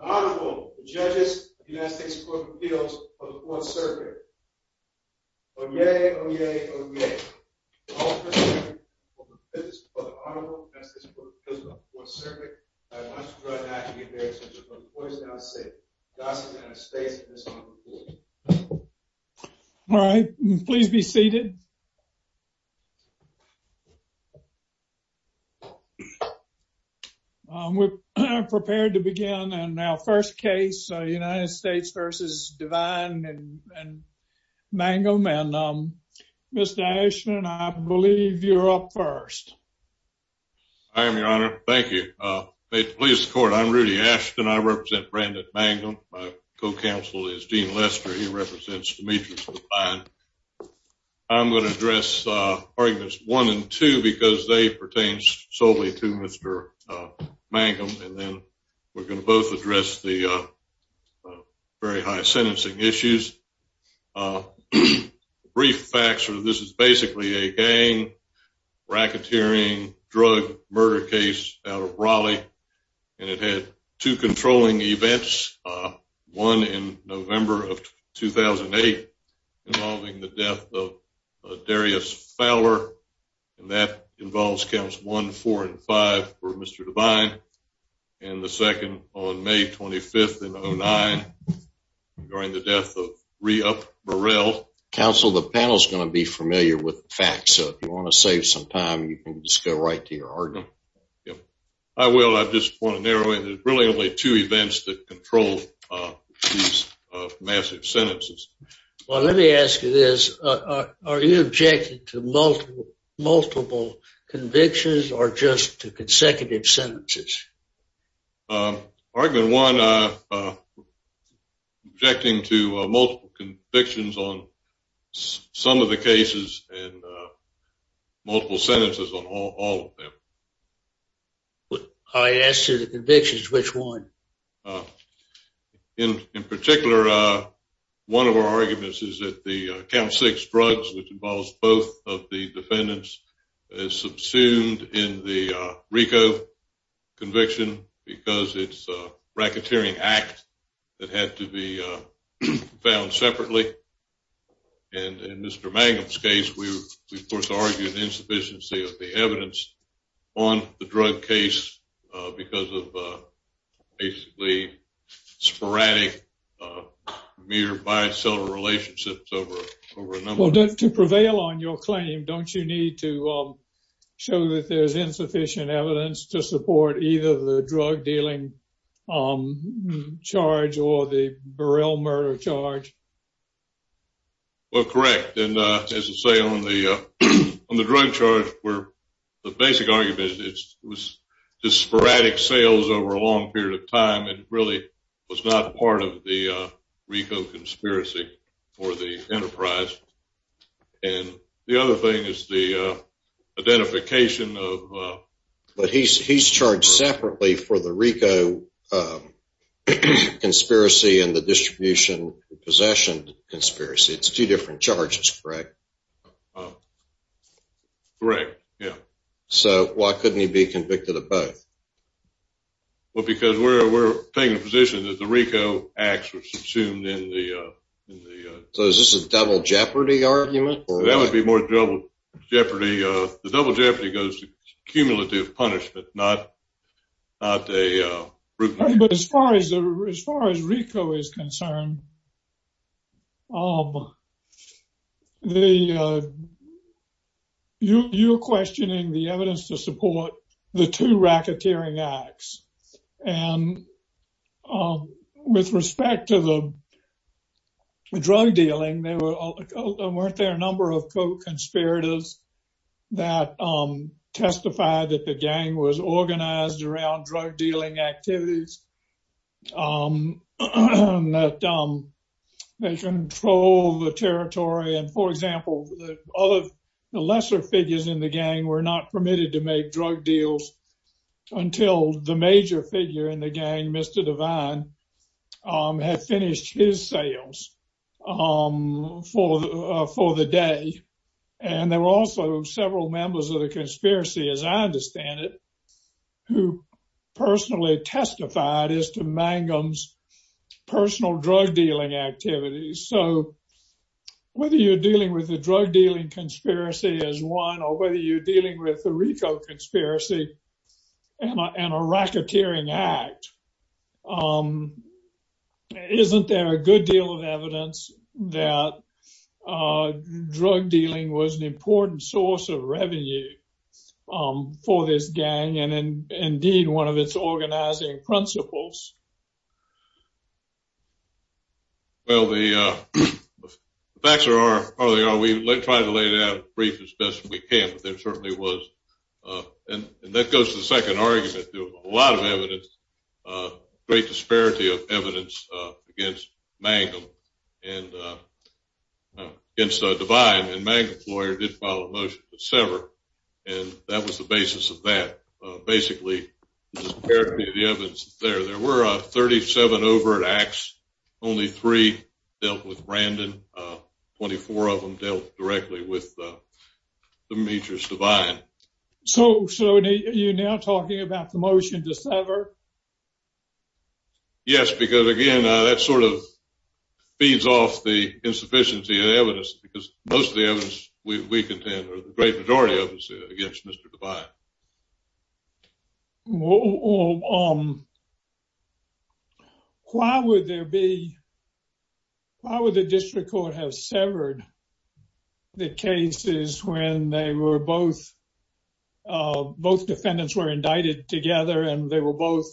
Honorable Judges of the United States Court of Appeals for the Fourth Circuit. Oyez, Oyez, Oyez. Honorable Judges of the United States Court of Appeals for the Fourth Circuit. I want to draw your attention to the points that I will say. There is not enough space in this honorable court. All right, please be seated. We're prepared to begin our first case, United States v. Devine and Mangum. Mr. Ashton, I believe you're up first. I am, Your Honor. Thank you. At the police court, I'm Rudy Ashton. I represent Brandon Mangum. My co-counsel is Gene Lester. He represents Demetrice Devine. I'm going to address arguments one and two because they pertain solely to Mr. Mangum. And then we're going to both address the very high sentencing issues. Brief facts, this is basically a gang, racketeering, drug murder case out of Raleigh. And it had two controlling events, one in November of 2008 involving the death of Darius Fowler. And that involves counts one, four, and five for Mr. Devine. And the second on May 25th in 2009 during the death of Reup Burrell. Counsel, the panel is going to be familiar with the facts. So if you want to save some time, you can just go right to your argument. I will. I just want to narrow in. There's really only two events that control these massive sentences. Well, let me ask you this. Are you objecting to multiple convictions or just to consecutive sentences? Argument one, I'm objecting to multiple convictions on some of the cases and multiple sentences on all of them. I asked you the convictions, which one? In particular, one of our arguments is that the count six drugs, which involves both of the defendants, is subsumed in the RICO conviction because it's a racketeering act that had to be found separately. And in Mr. Mangum's case, we, of course, argued the insufficiency of the evidence on the drug case because of basically sporadic mere biocellular relationships over a number of years. Well, to prevail on your claim, don't you need to show that there's insufficient evidence to support either the drug dealing charge or the Burrell murder charge? Well, correct. And as I say, on the drug charge, the basic argument is just sporadic sales over a long period of time. It really was not part of the RICO conspiracy or the enterprise. And the other thing is the identification of... But he's charged separately for the RICO conspiracy and the distribution possession conspiracy. It's two different charges, correct? Correct, yeah. So why couldn't he be convicted of both? Well, because we're taking the position that the RICO acts were subsumed in the... So is this a double jeopardy argument? That would be more double jeopardy. The double jeopardy goes to cumulative punishment, not a... But as far as RICO is concerned, you're questioning the evidence to support the two racketeering acts. And with respect to the drug dealing, weren't there a number of co-conspirators that testified that the gang was organized around drug dealing activities? That they control the territory and, for example, the lesser figures in the gang were not permitted to make drug deals until the major figure in the gang, Mr. Divine, had finished his sales for the day. And there were also several members of the conspiracy, as I understand it, who personally testified as to Mangum's personal drug dealing activities. So whether you're dealing with the drug dealing conspiracy as one or whether you're dealing with the RICO conspiracy and a racketeering act, isn't there a good deal of evidence that drug dealing was an important source of revenue for this gang and, indeed, one of its organizing principles? Well, the facts are we try to lay it out as brief as best we can, but there certainly was, and that goes to the second argument. There was a lot of evidence, a great disparity of evidence against Mangum and against Divine, and Mangum's lawyer did file a motion to sever, and that was the basis of that. There were 37 overt acts. Only three dealt with Brandon. Twenty-four of them dealt directly with Demetrius Divine. So you're now talking about the motion to sever? Yes, because, again, that sort of feeds off the insufficiency of evidence because most of the evidence we contend, or the great majority of it, is against Mr. Divine. Why would the district court have severed the cases when both defendants were indicted together and they were both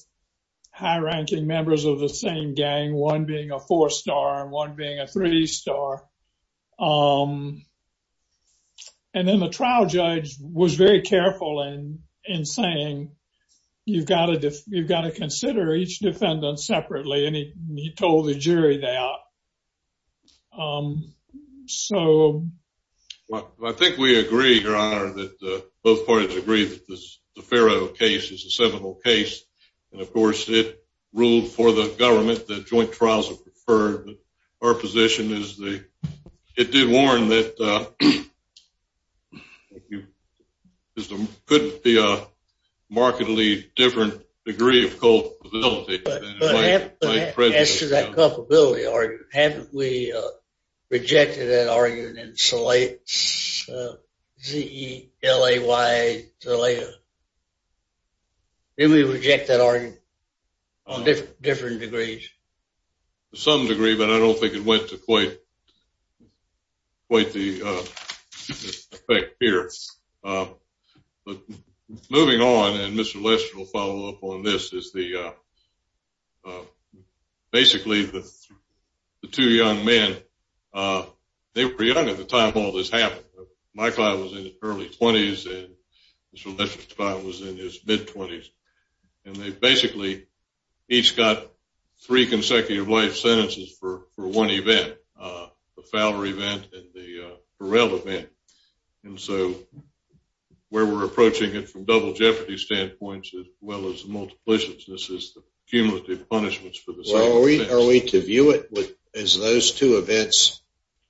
high-ranking members of the same gang, one being a four-star and one being a three-star? And then the trial judge was very careful in saying, you've got to consider each defendant separately, and he told the jury that. Well, I think we agree, Your Honor, that both parties agree that the Farrow case is a seminal case, and, of course, it ruled for the government that joint trials are preferred. Our position is it did warn that there couldn't be a markedly different degree of culpability. But as to that culpability argument, haven't we rejected that argument in Zalaya? Didn't we reject that argument in different degrees? To some degree, but I don't think it went to quite the effect here. Moving on, and Mr. Lesher will follow up on this, is basically the two young men, they were young at the time all this happened. My client was in his early 20s, and Mr. Lesher's client was in his mid-20s, and they basically each got three consecutive life sentences for one event, the Fowler event and the Burrell event. And so where we're approaching it from double jeopardy standpoints as well as multiplicities, this is the cumulative punishments for the same offense. Are we to view it as those two events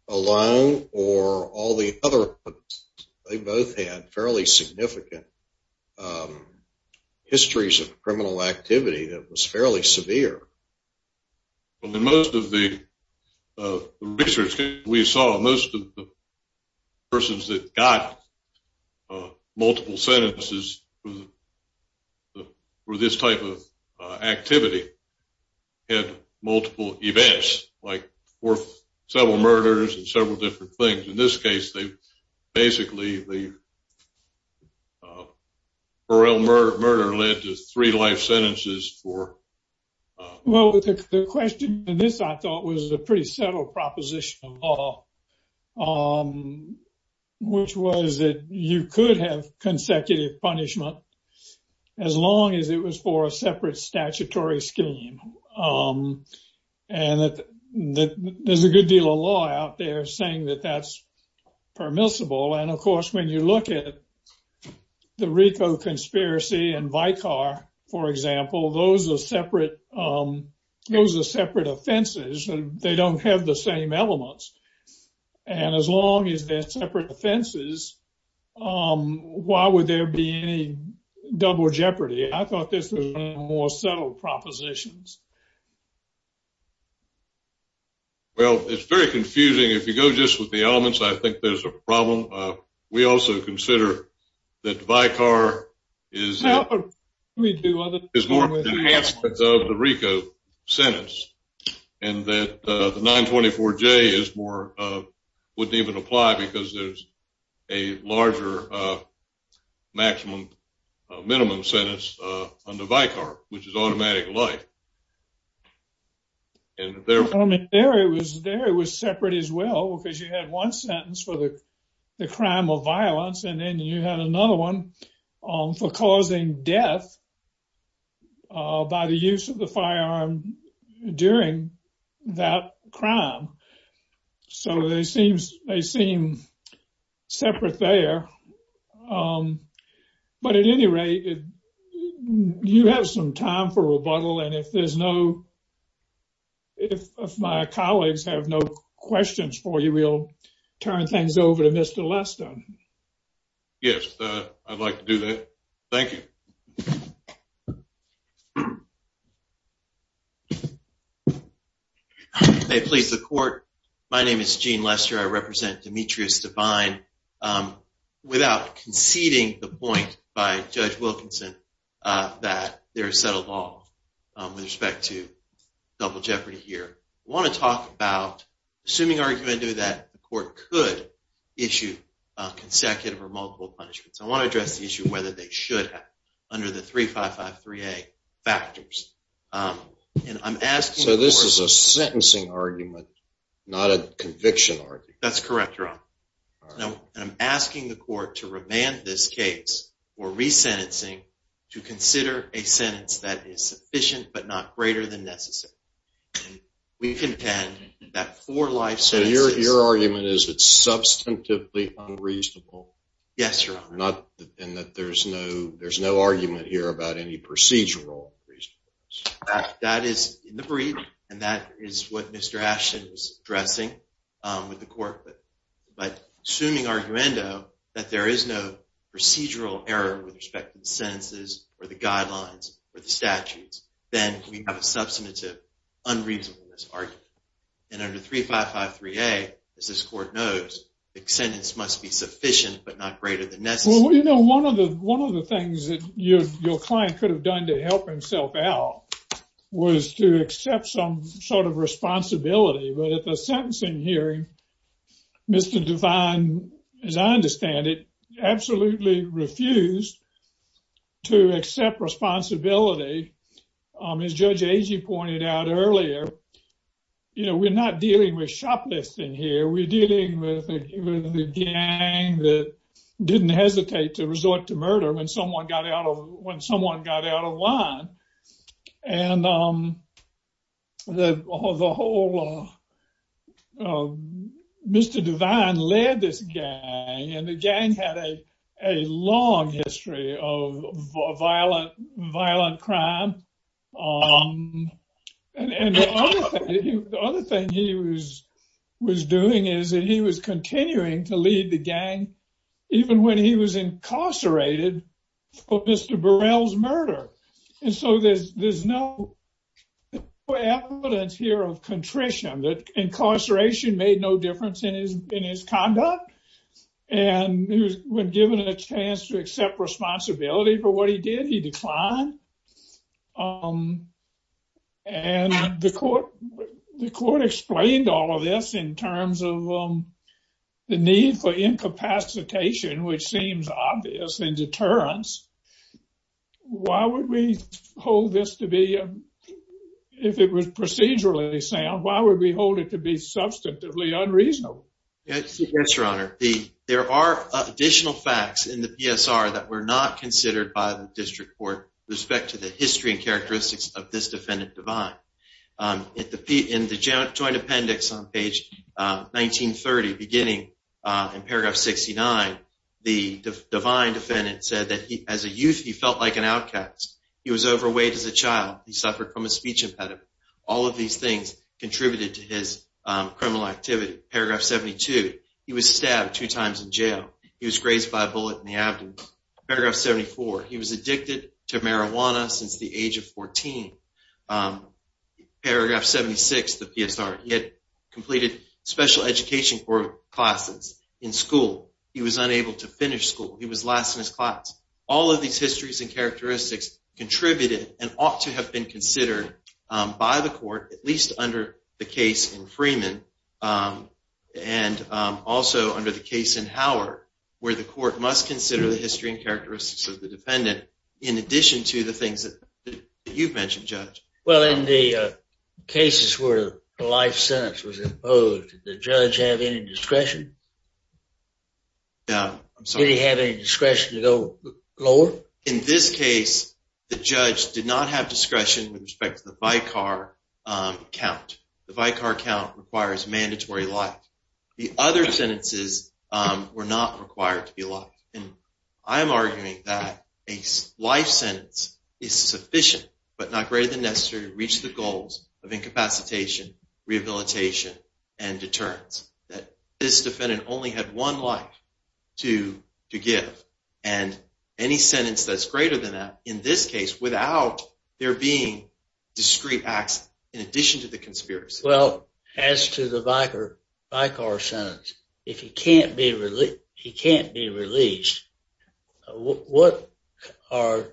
alone or all the other ones? They both had fairly significant histories of criminal activity that was fairly severe. In most of the research we saw, most of the persons that got multiple sentences for this type of activity had multiple events, like several murders and several different things. In this case, basically the Burrell murder led to three life sentences for... Well, the question in this, I thought, was a pretty subtle proposition of law, which was that you could have consecutive punishment as long as it was for a separate statutory scheme. And that there's a good deal of law out there saying that that's permissible. And, of course, when you look at the RICO conspiracy and Vicar, for example, those are separate offenses. They don't have the same elements. And as long as they're separate offenses, why would there be any double jeopardy? I thought this was one of the more subtle propositions. Well, it's very confusing. If you go just with the elements, I think there's a problem. We also consider that Vicar is more of the RICO sentence and that the 924J wouldn't even apply because there's a larger maximum minimum sentence under Vicar, which is automatic life. I mean, there it was separate as well, because you had one sentence for the crime of violence and then you had another one for causing death by the use of the firearm during that crime. So they seem separate there. But at any rate, you have some time for rebuttal. And if there's no. If my colleagues have no questions for you, we'll turn things over to Mr. Lester. Yes, I'd like to do that. Thank you. May it please the court. My name is Gene Lester. I represent Demetrius Devine. Without conceding the point by Judge Wilkinson that there is subtle law with respect to double jeopardy here. I want to talk about assuming argumentative that the court could issue consecutive or multiple punishments. I want to address the issue of whether they should have under the 3553A factors. So this is a sentencing argument, not a conviction argument. That's correct, Your Honor. And I'm asking the court to remand this case for resentencing to consider a sentence that is sufficient but not greater than necessary. We contend that four life sentences. So your argument is it's substantively unreasonable. Yes, Your Honor. And that there's no argument here about any procedural reason. That is in the brief, and that is what Mr. Ashton was addressing with the court. But assuming arguendo that there is no procedural error with respect to the sentences or the guidelines or the statutes, then we have a substantive unreasonableness argument. And under 3553A, as this court knows, the sentence must be sufficient but not greater than necessary. Well, you know, one of the things that your client could have done to help himself out was to accept some sort of responsibility. But at the sentencing hearing, Mr. Devine, as I understand it, absolutely refused to accept responsibility. As Judge Agee pointed out earlier, you know, we're not dealing with shoplifting here. We're dealing with a gang that didn't hesitate to resort to murder when someone got out of when someone got out of line. And Mr. Devine led this gang, and the gang had a long history of violent crime. And the other thing he was doing is that he was continuing to lead the gang even when he was incarcerated for Mr. Burrell's murder. And so there's no evidence here of contrition. The incarceration made no difference in his conduct. And when given a chance to accept responsibility for what he did, he declined. And the court explained all of this in terms of the need for incapacitation, which seems obvious, and deterrence. Why would we hold this to be, if it was procedurally sound, why would we hold it to be substantively unreasonable? Yes, Your Honor. There are additional facts in the PSR that were not considered by the district court with respect to the history and characteristics of this defendant, Devine. In the joint appendix on page 1930, beginning in paragraph 69, the Devine defendant said that as a youth he felt like an outcast. He was overweight as a child. He suffered from a speech impediment. All of these things contributed to his criminal activity. Paragraph 72, he was stabbed two times in jail. He was grazed by a bullet in the abdomen. Paragraph 74, he was addicted to marijuana since the age of 14. Paragraph 76, the PSR, he had completed special education classes in school. He was unable to finish school. He was last in his class. All of these histories and characteristics contributed and ought to have been considered by the court, at least under the case in Freeman, and also under the case in Howard, where the court must consider the history and characteristics of the defendant in addition to the things that you've mentioned, Judge. Well, in the cases where a life sentence was imposed, did the judge have any discretion? Did he have any discretion to go lower? In this case, the judge did not have discretion with respect to the Vicar count. The Vicar count requires mandatory life. The other sentences were not required to be allowed. And I'm arguing that a life sentence is sufficient but not greater than necessary to reach the goals of incapacitation, rehabilitation, and deterrence, that this defendant only had one life to give. And any sentence that's greater than that, in this case, without there being discrete acts in addition to the conspiracy. Well, as to the Vicar sentence, if he can't be released, what are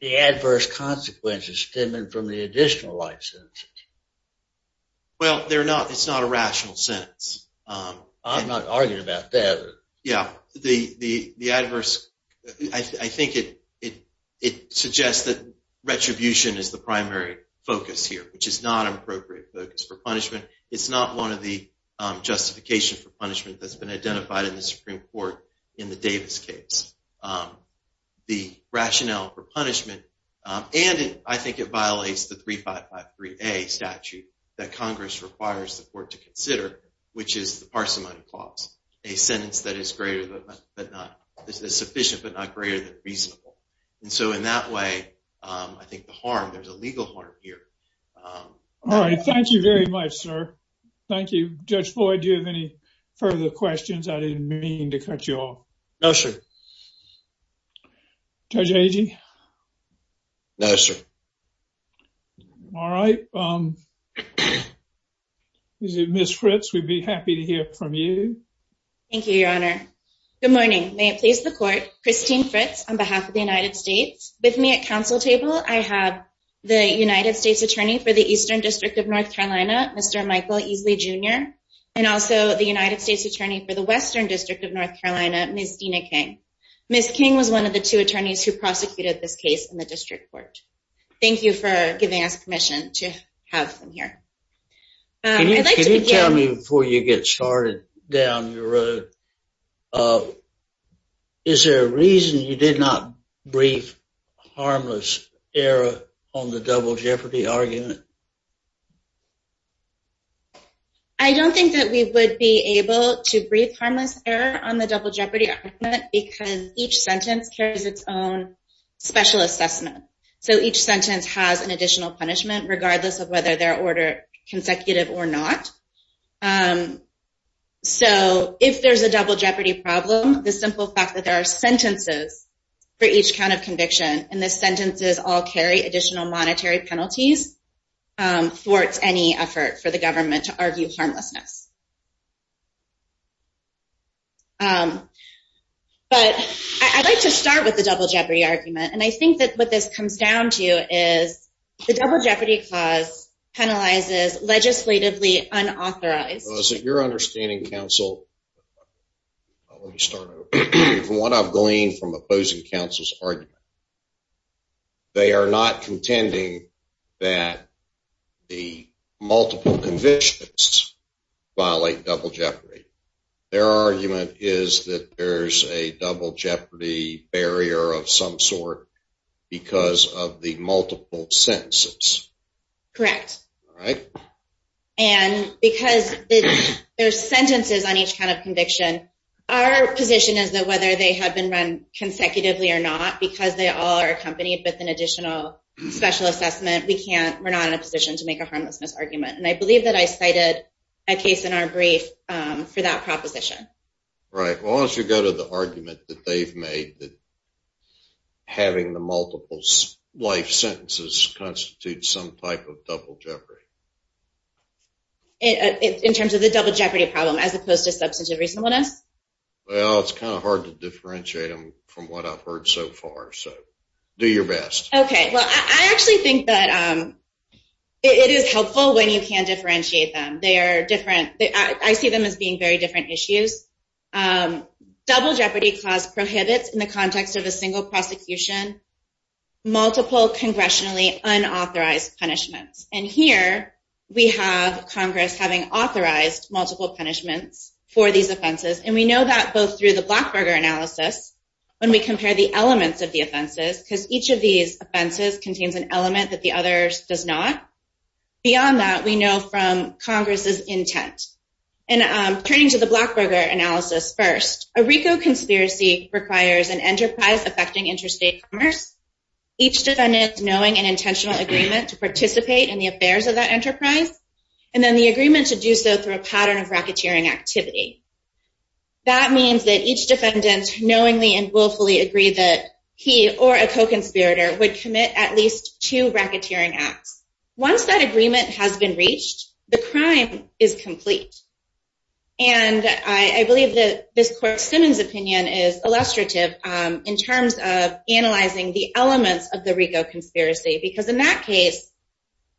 the adverse consequences stemming from the additional life sentences? Well, it's not a rational sentence. I'm not arguing about that. Yeah. I think it suggests that retribution is the primary focus here, which is not an appropriate focus for punishment. It's not one of the justifications for punishment that's been identified in the Supreme Court in the Davis case. The rationale for punishment, and I think it violates the 3553A statute that Congress requires the court to consider, which is the parsimony clause, a sentence that is sufficient but not greater than reasonable. And so in that way, I think the harm, there's a legal harm here. All right. Thank you very much, sir. Thank you. Judge Floyd, do you have any further questions? I didn't mean to cut you off. No, sir. Judge Agee? No, sir. All right. Ms. Fritz, we'd be happy to hear from you. Thank you, Your Honor. Good morning. May it please the court, Christine Fritz on behalf of the United States. With me at council table, I have the United States Attorney for the Eastern District of North Carolina, Mr. Michael Easley, Jr., and also the United States Attorney for the Western District of North Carolina, Ms. Dena King. Ms. King was one of the two attorneys who prosecuted this case in the district court. Thank you for giving us permission to have her here. Can you tell me before you get started down the road, is there a reason you did not brief harmless error on the double jeopardy argument? I don't think that we would be able to brief harmless error on the double jeopardy argument because each sentence carries its own special assessment. So each sentence has an additional punishment, regardless of whether they're ordered consecutive or not. So if there's a double jeopardy problem, the simple fact that there are sentences for each kind of conviction and the sentences all carry additional monetary penalties thwarts any effort for the government to argue harmlessness. But I'd like to start with the double jeopardy argument. And I think that what this comes down to is the double jeopardy clause penalizes legislatively unauthorized... They are not contending that the multiple convictions violate double jeopardy. Their argument is that there's a double jeopardy barrier of some sort because of the multiple sentences. Correct. And because there's sentences on each kind of conviction, our position is that whether they have been run consecutively or not because they all are accompanied with an additional special assessment, we're not in a position to make a harmlessness argument. And I believe that I cited a case in our brief for that proposition. Right. Well, why don't you go to the argument that they've made, that having the multiple life sentences constitutes some type of double jeopardy. In terms of the double jeopardy problem, as opposed to substantive reasonableness? Well, it's kind of hard to differentiate them from what I've heard so far. So do your best. Okay. Well, I actually think that it is helpful when you can differentiate them. They are different. I see them as being very different issues. Double jeopardy clause prohibits, in the context of a single prosecution, multiple congressionally unauthorized punishments. And here we have Congress having authorized multiple punishments for these offenses. And we know that both through the Blackburger analysis, when we compare the elements of the offenses, because each of these offenses contains an element that the other does not. Beyond that, we know from Congress's intent. And turning to the Blackburger analysis first, a RICO conspiracy requires an enterprise affecting interstate commerce, each defendant knowing an intentional agreement to participate in the affairs of that enterprise, and then the agreement to do so through a pattern of racketeering activity. That means that each defendant knowingly and willfully agreed that he or a co-conspirator would commit at least two racketeering acts. Once that agreement has been reached, the crime is complete. And I believe that this court's Simmons opinion is illustrative in terms of analyzing the elements of the RICO conspiracy, because in that case,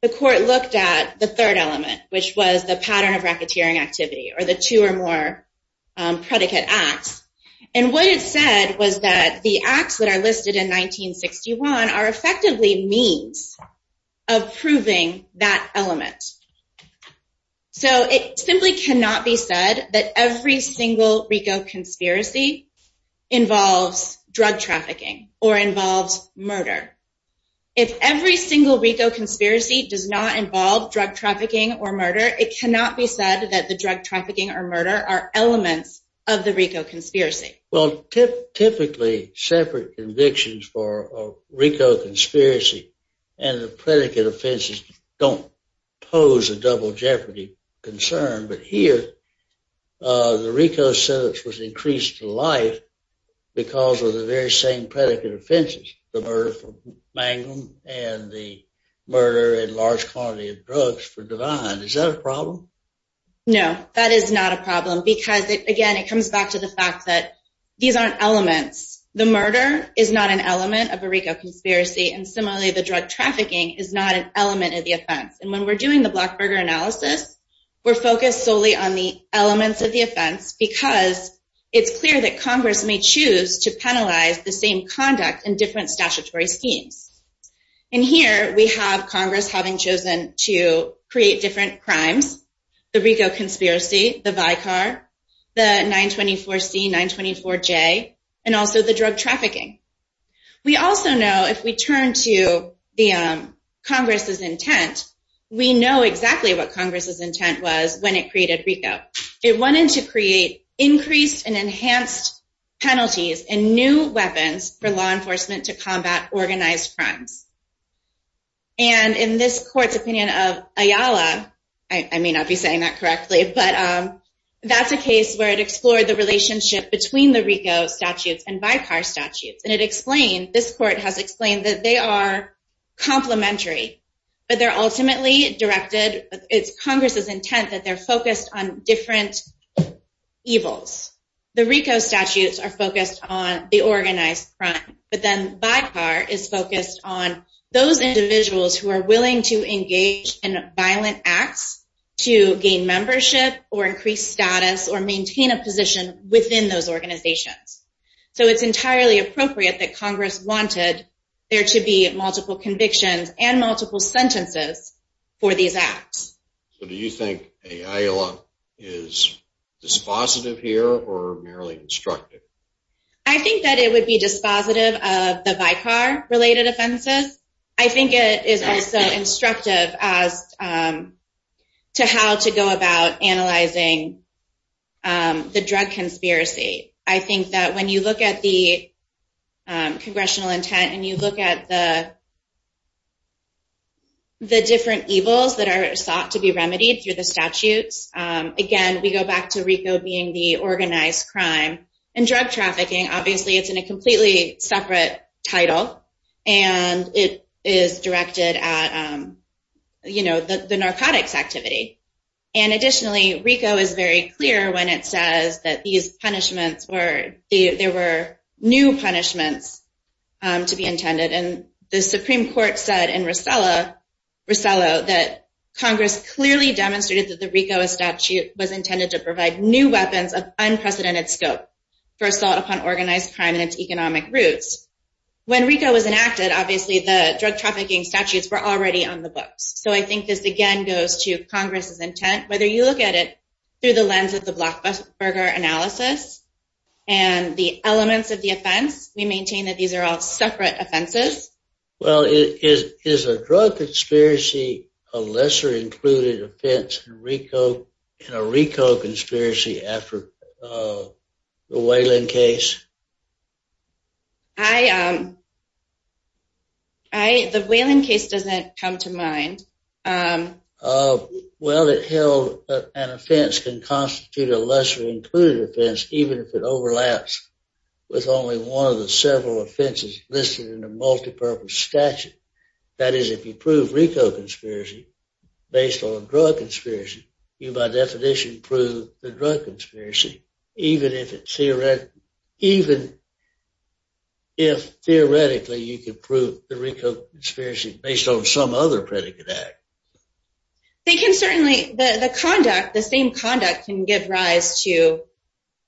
the court looked at the third element, which was the pattern of racketeering activity, or the two or more predicate acts. And what it said was that the acts that are listed in 1961 are effectively means of proving that element. So it simply cannot be said that every single RICO conspiracy involves drug trafficking or involves murder. If every single RICO conspiracy does not involve drug trafficking or murder, it cannot be said that the drug trafficking or murder are elements of the RICO conspiracy. Well, typically, separate convictions for a RICO conspiracy and the predicate offenses don't pose a double jeopardy concern. But here, the RICO sentence was increased to life because of the very same predicate offenses, the murder of Mangum and the murder and large quantity of drugs for Devine. Is that a problem? No, that is not a problem because, again, it comes back to the fact that these aren't elements. The murder is not an element of a RICO conspiracy, and similarly, the drug trafficking is not an element of the offense. And when we're doing the Blackburger analysis, we're focused solely on the elements of the offense because it's clear that Congress may choose to penalize the same conduct in different statutory schemes. And here, we have Congress having chosen to create different crimes, the RICO conspiracy, the Vicar, the 924C, 924J, and also the drug trafficking. We also know if we turn to Congress's intent, we know exactly what Congress's intent was when it created RICO. It wanted to create increased and enhanced penalties and new weapons for law enforcement to combat organized crimes. And in this court's opinion of Ayala, I may not be saying that correctly, but that's a case where it explored the relationship between the RICO statutes and Vicar statutes. And it explained, this court has explained, that they are complementary, but they're ultimately directed, it's Congress's intent that they're focused on different evils. The RICO statutes are focused on the organized crime, but then Vicar is focused on those individuals who are willing to engage in violent acts to gain membership or increase status or maintain a position within those organizations. So it's entirely appropriate that Congress wanted there to be multiple convictions and multiple sentences for these acts. So do you think Ayala is dispositive here or merely instructive? I think that it would be dispositive of the Vicar-related offenses. I think it is also instructive as to how to go about analyzing the drug conspiracy. I think that when you look at the congressional intent and you look at the different evils that are sought to be remedied through the statutes, again, we go back to RICO being the organized crime. And drug trafficking, obviously, it's in a completely separate title, and it is directed at the narcotics activity. And additionally, RICO is very clear when it says that there were new punishments to be intended. And the Supreme Court said in Rosella that Congress clearly demonstrated that the RICO statute was intended to provide new weapons of unprecedented scope for assault upon organized crime and its economic roots. When RICO was enacted, obviously, the drug trafficking statutes were already on the books. So I think this, again, goes to Congress's intent. Whether you look at it through the lens of the Blackberger analysis and the elements of the offense, we maintain that these are all separate offenses. Well, is a drug conspiracy a lesser-included offense in a RICO conspiracy after the Whalen case? The Whalen case doesn't come to mind. Well, an offense can constitute a lesser-included offense even if it overlaps with only one of the several offenses listed in a multipurpose statute. That is, if you prove RICO conspiracy based on a drug conspiracy, you, by definition, prove the drug conspiracy, even if, theoretically, you can prove the RICO conspiracy based on some other predicate act. The same conduct can give rise to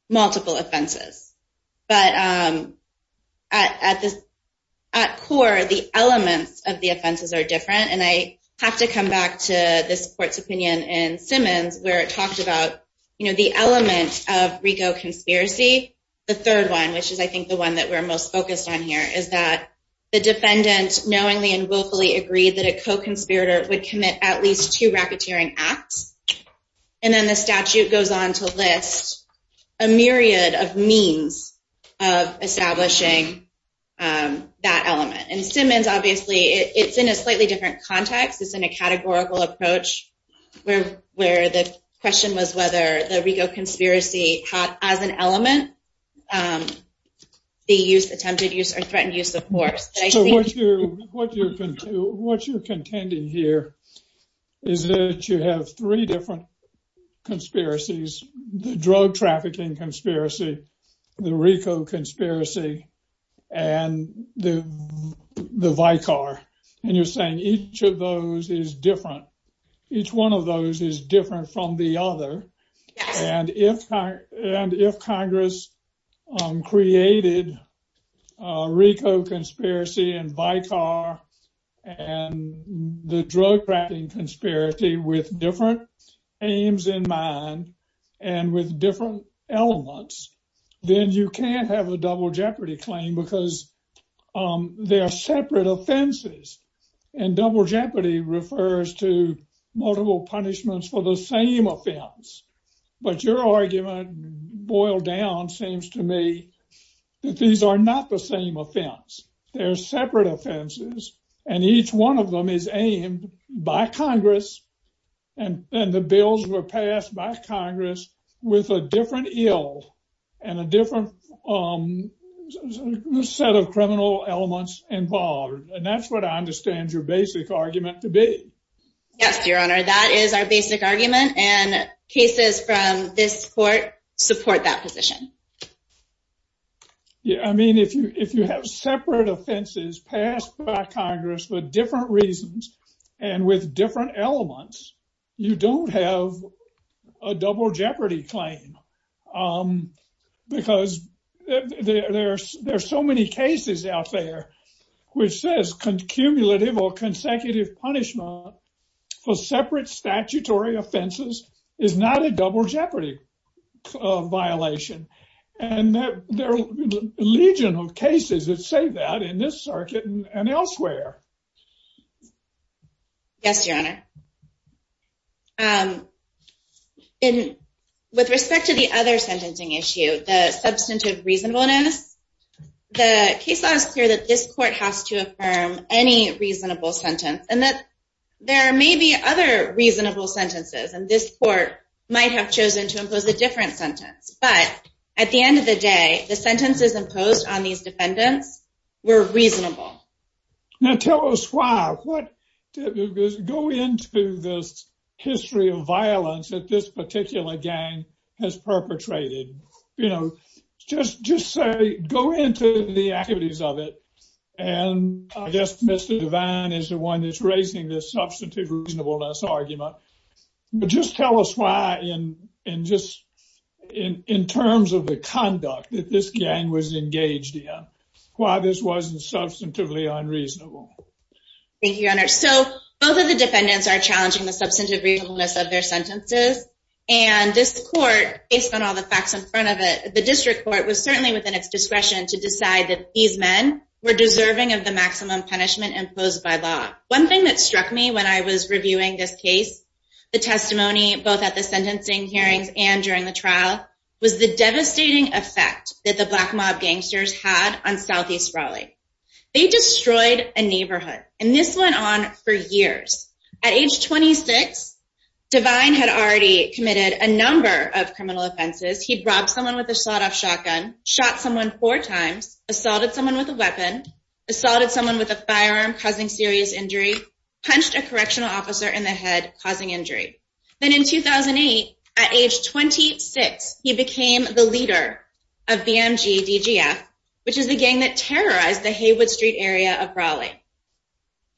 multiple offenses. But at core, the elements of the offenses are different. And I have to come back to this court's opinion in Simmons where it talked about the elements of RICO conspiracy. The third one, which is, I think, the one that we're most focused on here, is that the defendant knowingly and willfully agreed that a co-conspirator would commit at least two racketeering acts. And then the statute goes on to list a myriad of means of establishing that element. And in Simmons, obviously, it's in a slightly different context. It's in a categorical approach where the question was whether the RICO conspiracy as an element, the attempted use or threatened use of force. So what you're contending here is that you have three different conspiracies, the drug trafficking conspiracy, the RICO conspiracy and the Vicar. And you're saying each of those is different. Each one of those is different from the other. And if Congress created RICO conspiracy and Vicar and the drug trafficking conspiracy with different aims in mind and with different elements, then you can't have a double jeopardy claim because they are separate offenses and double jeopardy refers to multiple punishments for the same offense. But your argument, boiled down, seems to me that these are not the same offense. They're separate offenses. And each one of them is aimed by Congress. And the bills were passed by Congress with a different ill and a different set of criminal elements involved. And that's what I understand your basic argument to be. Yes, Your Honor, that is our basic argument. And cases from this court support that position. Yeah, I mean, if you if you have separate offenses passed by Congress with different reasons and with different elements, you don't have a double jeopardy claim. Because there are so many cases out there which says cumulative or consecutive punishment for separate statutory offenses is not a double jeopardy violation. And there are legion of cases that say that in this circuit and elsewhere. Yes, Your Honor. With respect to the other sentencing issue, the substantive reasonableness, the case law is clear that this court has to affirm any reasonable sentence. And that there may be other reasonable sentences and this court might have chosen to impose a different sentence. But at the end of the day, the sentences imposed on these defendants were reasonable. Now, tell us why. Go into this history of violence that this particular gang has perpetrated. You know, just say, go into the activities of it. And I guess Mr. Devine is the one that's raising this substantive reasonableness argument. Just tell us why. And just in terms of the conduct that this gang was engaged in, why this wasn't substantively unreasonable. Thank you, Your Honor. So both of the defendants are challenging the substantive reasonableness of their sentences. And this court, based on all the facts in front of it, the district court was certainly within its discretion to decide that these men were deserving of the maximum punishment imposed by law. One thing that struck me when I was reviewing this case, the testimony, both at the sentencing hearings and during the trial, was the devastating effect that the black mob gangsters had on Southeast Raleigh. They destroyed a neighborhood. And this went on for years. At age 26, Devine had already committed a number of criminal offenses. He'd robbed someone with a sawed-off shotgun, shot someone four times, assaulted someone with a weapon, assaulted someone with a firearm causing serious injury, punched a correctional officer in the head causing injury. Then in 2008, at age 26, he became the leader of BMG DGF, which is the gang that terrorized the Haywood Street area of Raleigh.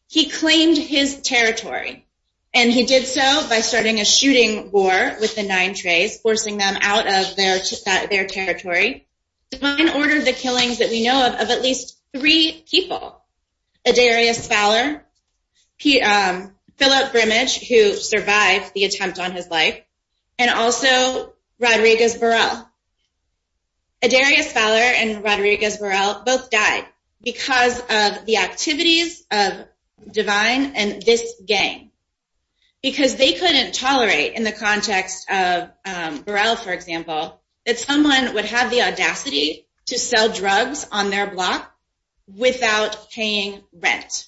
He claimed his territory. And he did so by starting a shooting war with the Nine Trays, forcing them out of their territory. Devine ordered the killings that we know of, of at least three people. Edarius Fowler, Philip Brimage, who survived the attempt on his life, and also Rodriguez Burrell. Edarius Fowler and Rodriguez Burrell both died because of the activities of Devine and this gang. Because they couldn't tolerate, in the context of Burrell, for example, that someone would have the audacity to sell drugs on their block without paying rent.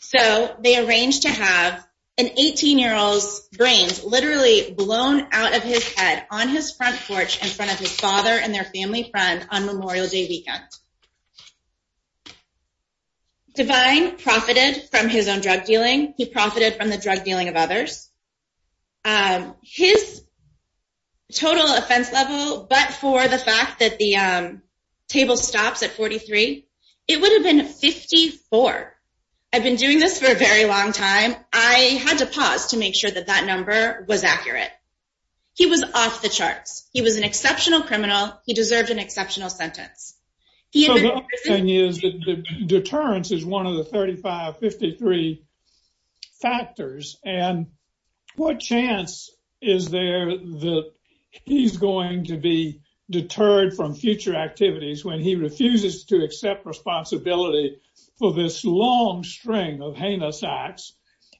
So they arranged to have an 18-year-old's brains literally blown out of his head on his front porch in front of his father and their family friend on Memorial Day weekend. Devine profited from his own drug dealing. He profited from the drug dealing of others. His total offense level, but for the fact that the table stops at 43, it would have been 54. I've been doing this for a very long time. I had to pause to make sure that that number was accurate. He was off the charts. He was an exceptional criminal. He deserved an exceptional sentence. So the other thing is that deterrence is one of the 35, 53 factors. And what chance is there that he's going to be deterred from future activities when he refuses to accept responsibility for this long string of heinous acts?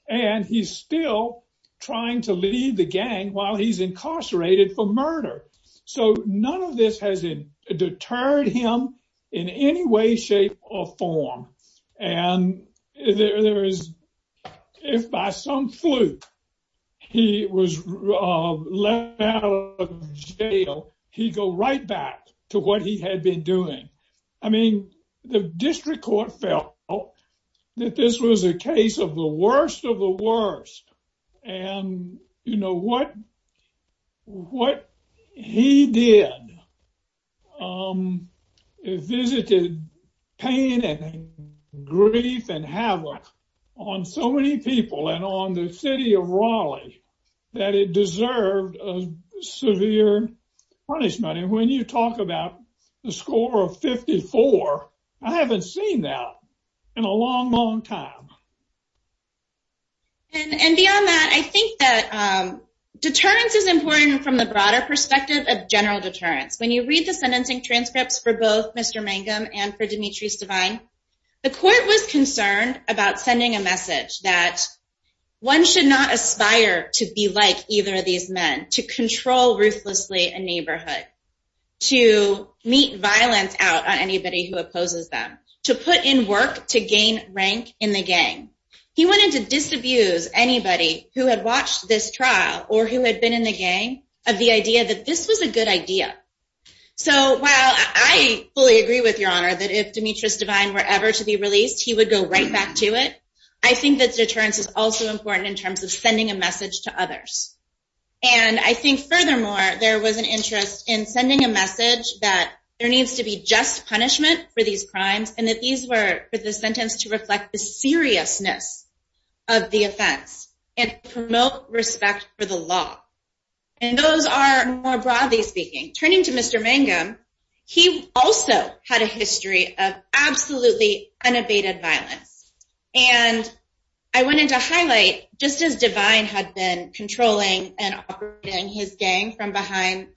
And he's still trying to lead the gang while he's incarcerated for murder. So none of this has deterred him in any way, shape or form. And there is if by some fluke he was left out of jail, he'd go right back to what he had been doing. I mean, the district court felt that this was a case of the worst of the worst. And, you know, what he did visited pain and grief and havoc on so many people and on the city of Raleigh that it deserved a severe punishment. And when you talk about the score of 54, I haven't seen that in a long, long time. And beyond that, I think that deterrence is important from the broader perspective of general deterrence. When you read the sentencing transcripts for both Mr. Mangum and for Demetrius Devine, the court was concerned about sending a message that one should not aspire to be like either of these men, to control ruthlessly a neighborhood, to meet violence out on anybody who opposes them, to put in work to gain rank in the gang. He wanted to disabuse anybody who had watched this trial or who had been in the gang of the idea that this was a good idea. So while I fully agree with your honor that if Demetrius Devine were ever to be released, he would go right back to it, I think that deterrence is also important in terms of sending a message to others. And I think furthermore, there was an interest in sending a message that there needs to be just punishment for these crimes and that these were for the sentence to reflect the seriousness of the offense and promote respect for the law. And those are more broadly speaking. Turning to Mr. Mangum, he also had a history of absolutely unabated violence. And I wanted to highlight, just as Devine had been controlling and operating his gang from behind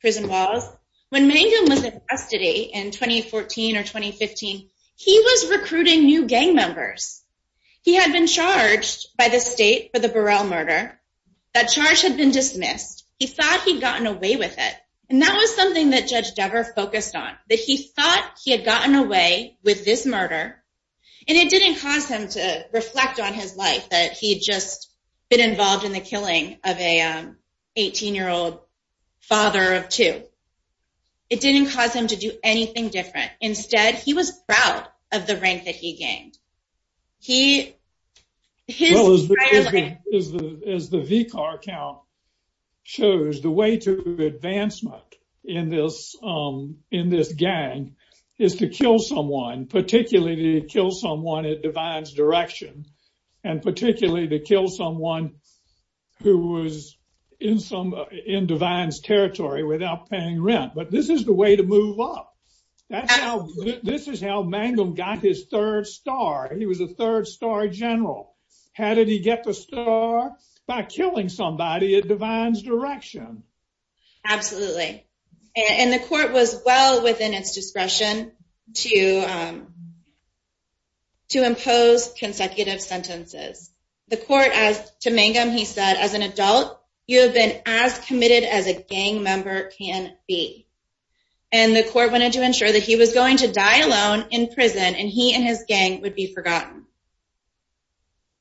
prison walls, when Mangum was in custody in 2014 or 2015, he was recruiting new gang members. He had been charged by the state for the Burrell murder. That charge had been dismissed. He thought he'd gotten away with it. And that was something that Judge Dever focused on, that he thought he had gotten away with this murder. And it didn't cause him to reflect on his life, that he'd just been involved in the killing of an 18-year-old father of two. It didn't cause him to do anything different. Instead, he was proud of the rank that he gained. As the VCAR count shows, the way to advancement in this gang is to kill someone, particularly to kill someone at Devine's direction, and particularly to kill someone who was in Devine's territory without paying rent. But this is the way to move up. This is how Mangum got his third star. He was a third-star general. How did he get the star? By killing somebody at Devine's direction. Absolutely. And the court was well within its discretion to impose consecutive sentences. The court asked to Mangum, he said, as an adult, you have been as committed as a gang member can be. And the court wanted to ensure that he was going to die alone in prison and he and his gang would be forgotten.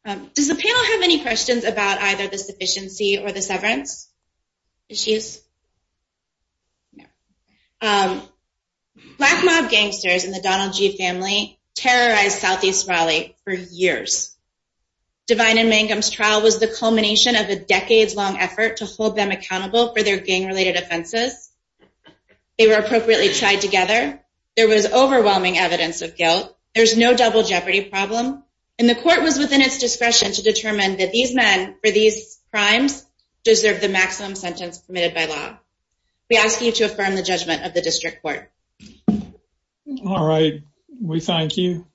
Does the panel have any questions about either the sufficiency or the severance issues? No. Black mob gangsters in the Donald G. family terrorized Southeast Raleigh for years. Devine and Mangum's trial was the culmination of a decades-long effort to hold them accountable for their gang-related offenses. They were appropriately tied together. There was overwhelming evidence of guilt. There's no double jeopardy problem. And the court was within its discretion to determine that these men for these crimes deserve the maximum sentence permitted by law. We ask you to affirm the judgment of the district court. All right. We thank you.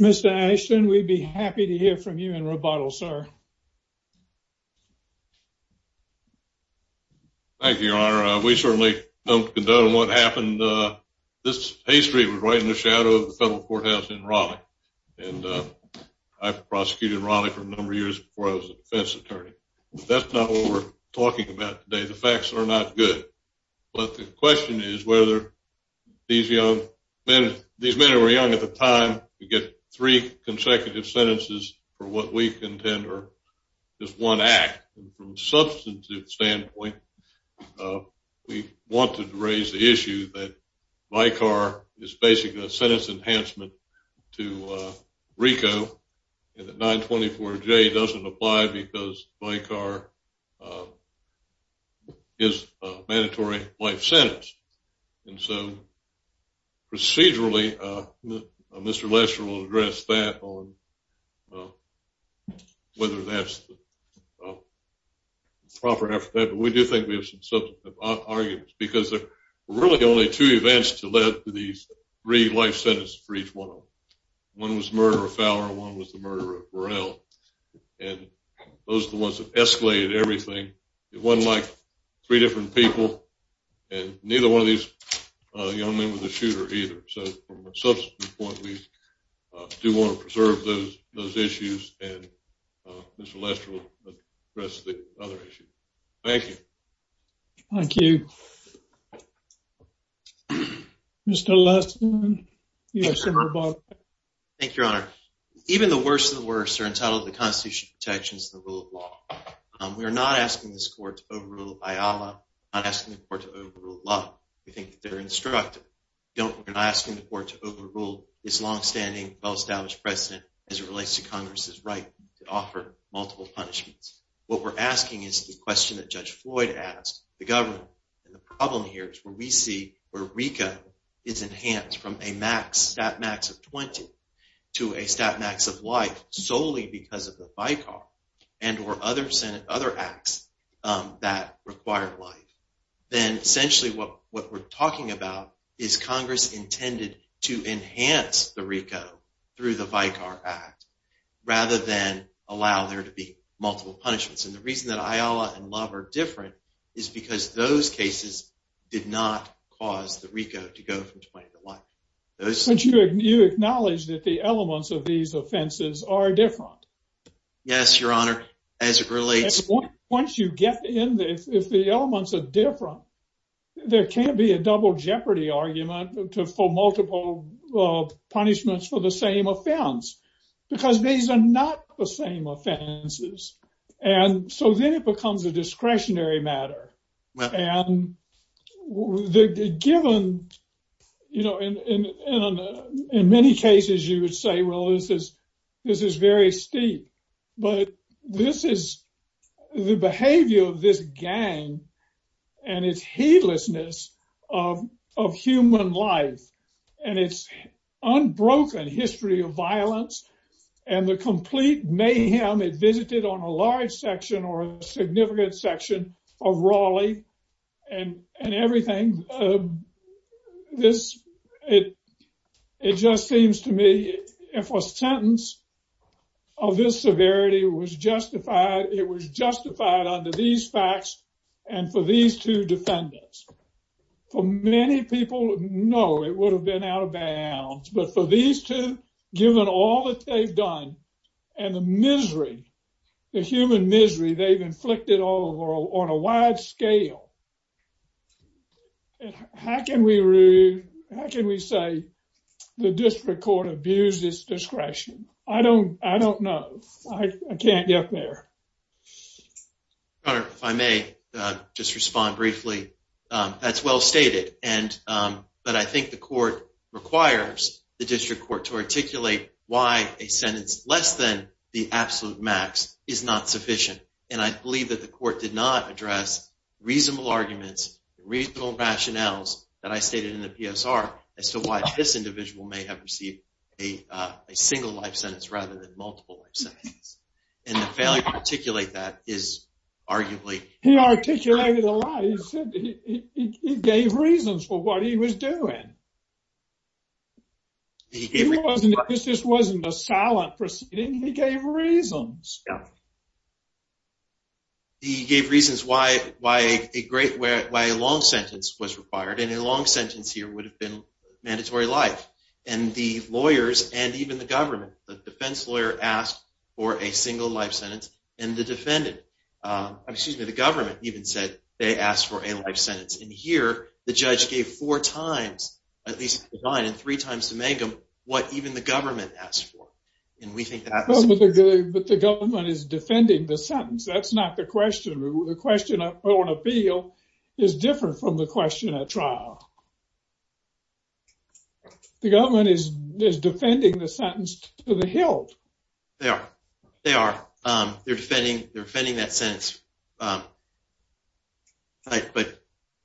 Mr. Ashton, we'd be happy to hear from you in rebuttal, sir. Thank you, Your Honor. We certainly don't condone what happened. This history was right in the shadow of the federal courthouse in Raleigh. And I prosecuted Raleigh for a number of years before I was a defense attorney. But that's not what we're talking about today. The facts are not good. But the question is whether these young men, these men who were young at the time, get three consecutive sentences for what we contend are just one act. From a substantive standpoint, we want to raise the issue that VICAR is basically a sentence enhancement to RICO, and that 924J doesn't apply because VICAR is a mandatory life sentence. And so procedurally, Mr. Lesher will address that on whether that's proper after that. But we do think we have some substantive arguments because there are really only two events that led to these three life sentences for each one of them. One was the murder of Fowler, and one was the murder of Burrell. And those are the ones that escalated everything. It wasn't like three different people, and neither one of these young men was a shooter either. So from a substantive point, we do want to preserve those issues, and Mr. Lesher will address the other issues. Thank you. Thank you. Mr. Lesher? Yes, Senator Bobbitt. Thank you, Your Honor. Even the worst of the worst are entitled to the Constitutional protections of the rule of law. We are not asking this Court to overrule IALA. We're not asking the Court to overrule law. We think that they're instructive. We're not asking the Court to overrule this longstanding, well-established precedent as it relates to Congress's right to offer multiple punishments. What we're asking is the question that Judge Floyd asked the government. And the problem here is where we see where RICO is enhanced from a max, stat max of 20, to a stat max of life solely because of the VICAR and or other acts that require life. Then essentially what we're talking about is Congress intended to enhance the RICO through the VICAR Act rather than allow there to be multiple punishments. And the reason that IALA and Love are different is because those cases did not cause the RICO to go from 20 to life. But you acknowledge that the elements of these offenses are different. Yes, Your Honor, as it relates. Once you get in, if the elements are different, there can't be a double jeopardy argument for multiple punishments for the same offense. Because these are not the same offenses. And so then it becomes a discretionary matter. And given, you know, in many cases, you would say, well, this is very steep. But this is the behavior of this gang and its heedlessness of human life and its unbroken history of violence and the complete mayhem it visited on a large section or a significant section of Raleigh and everything. This, it just seems to me if a sentence of this severity was justified, it was justified under these facts. And for these two defendants, for many people, no, it would have been out of bounds. But for these two, given all that they've done and the misery, the human misery they've inflicted all over on a wide scale. How can we say the district court abused its discretion? I don't I don't know. I can't get there. If I may just respond briefly, that's well stated. And but I think the court requires the district court to articulate why a sentence less than the absolute max is not sufficient. And I believe that the court did not address reasonable arguments, reasonable rationales that I stated in the PSR. As to why this individual may have received a single life sentence rather than multiple sentences. And the failure to articulate that is arguably he articulated a lot. He said he gave reasons for what he was doing. He gave this wasn't a silent proceeding. He gave reasons. He gave reasons why why a great way, a long sentence was required and a long sentence here would have been mandatory life. And the lawyers and even the government, the defense lawyer asked for a single life sentence. And the defendant excuse me, the government even said they asked for a life sentence. And here the judge gave four times at least nine and three times to make them what even the government asked for. And we think that the government is defending the sentence. That's not the question. The question on appeal is different from the question at trial. The government is defending the sentence to the hilt. There they are. They're defending they're defending that sentence. But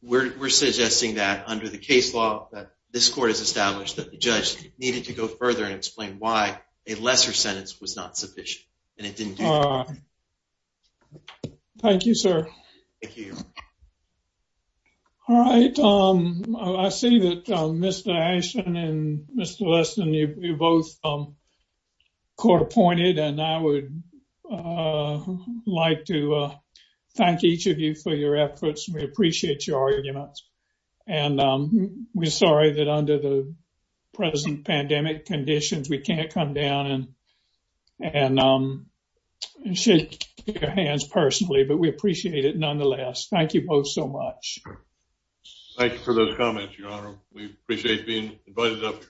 we're suggesting that under the case law that this court has established that the judge needed to go further and explain why a lesser sentence was not sufficient. And it didn't. Thank you, sir. All right. I see that Mr. Listen, you both court appointed and I would like to thank each of you for your efforts. We appreciate your arguments. And we're sorry that under the present pandemic conditions, we can't come down and and shake your hands personally. But we appreciate it nonetheless. Thank you both so much. Thank you for those comments, your honor. We appreciate being invited up.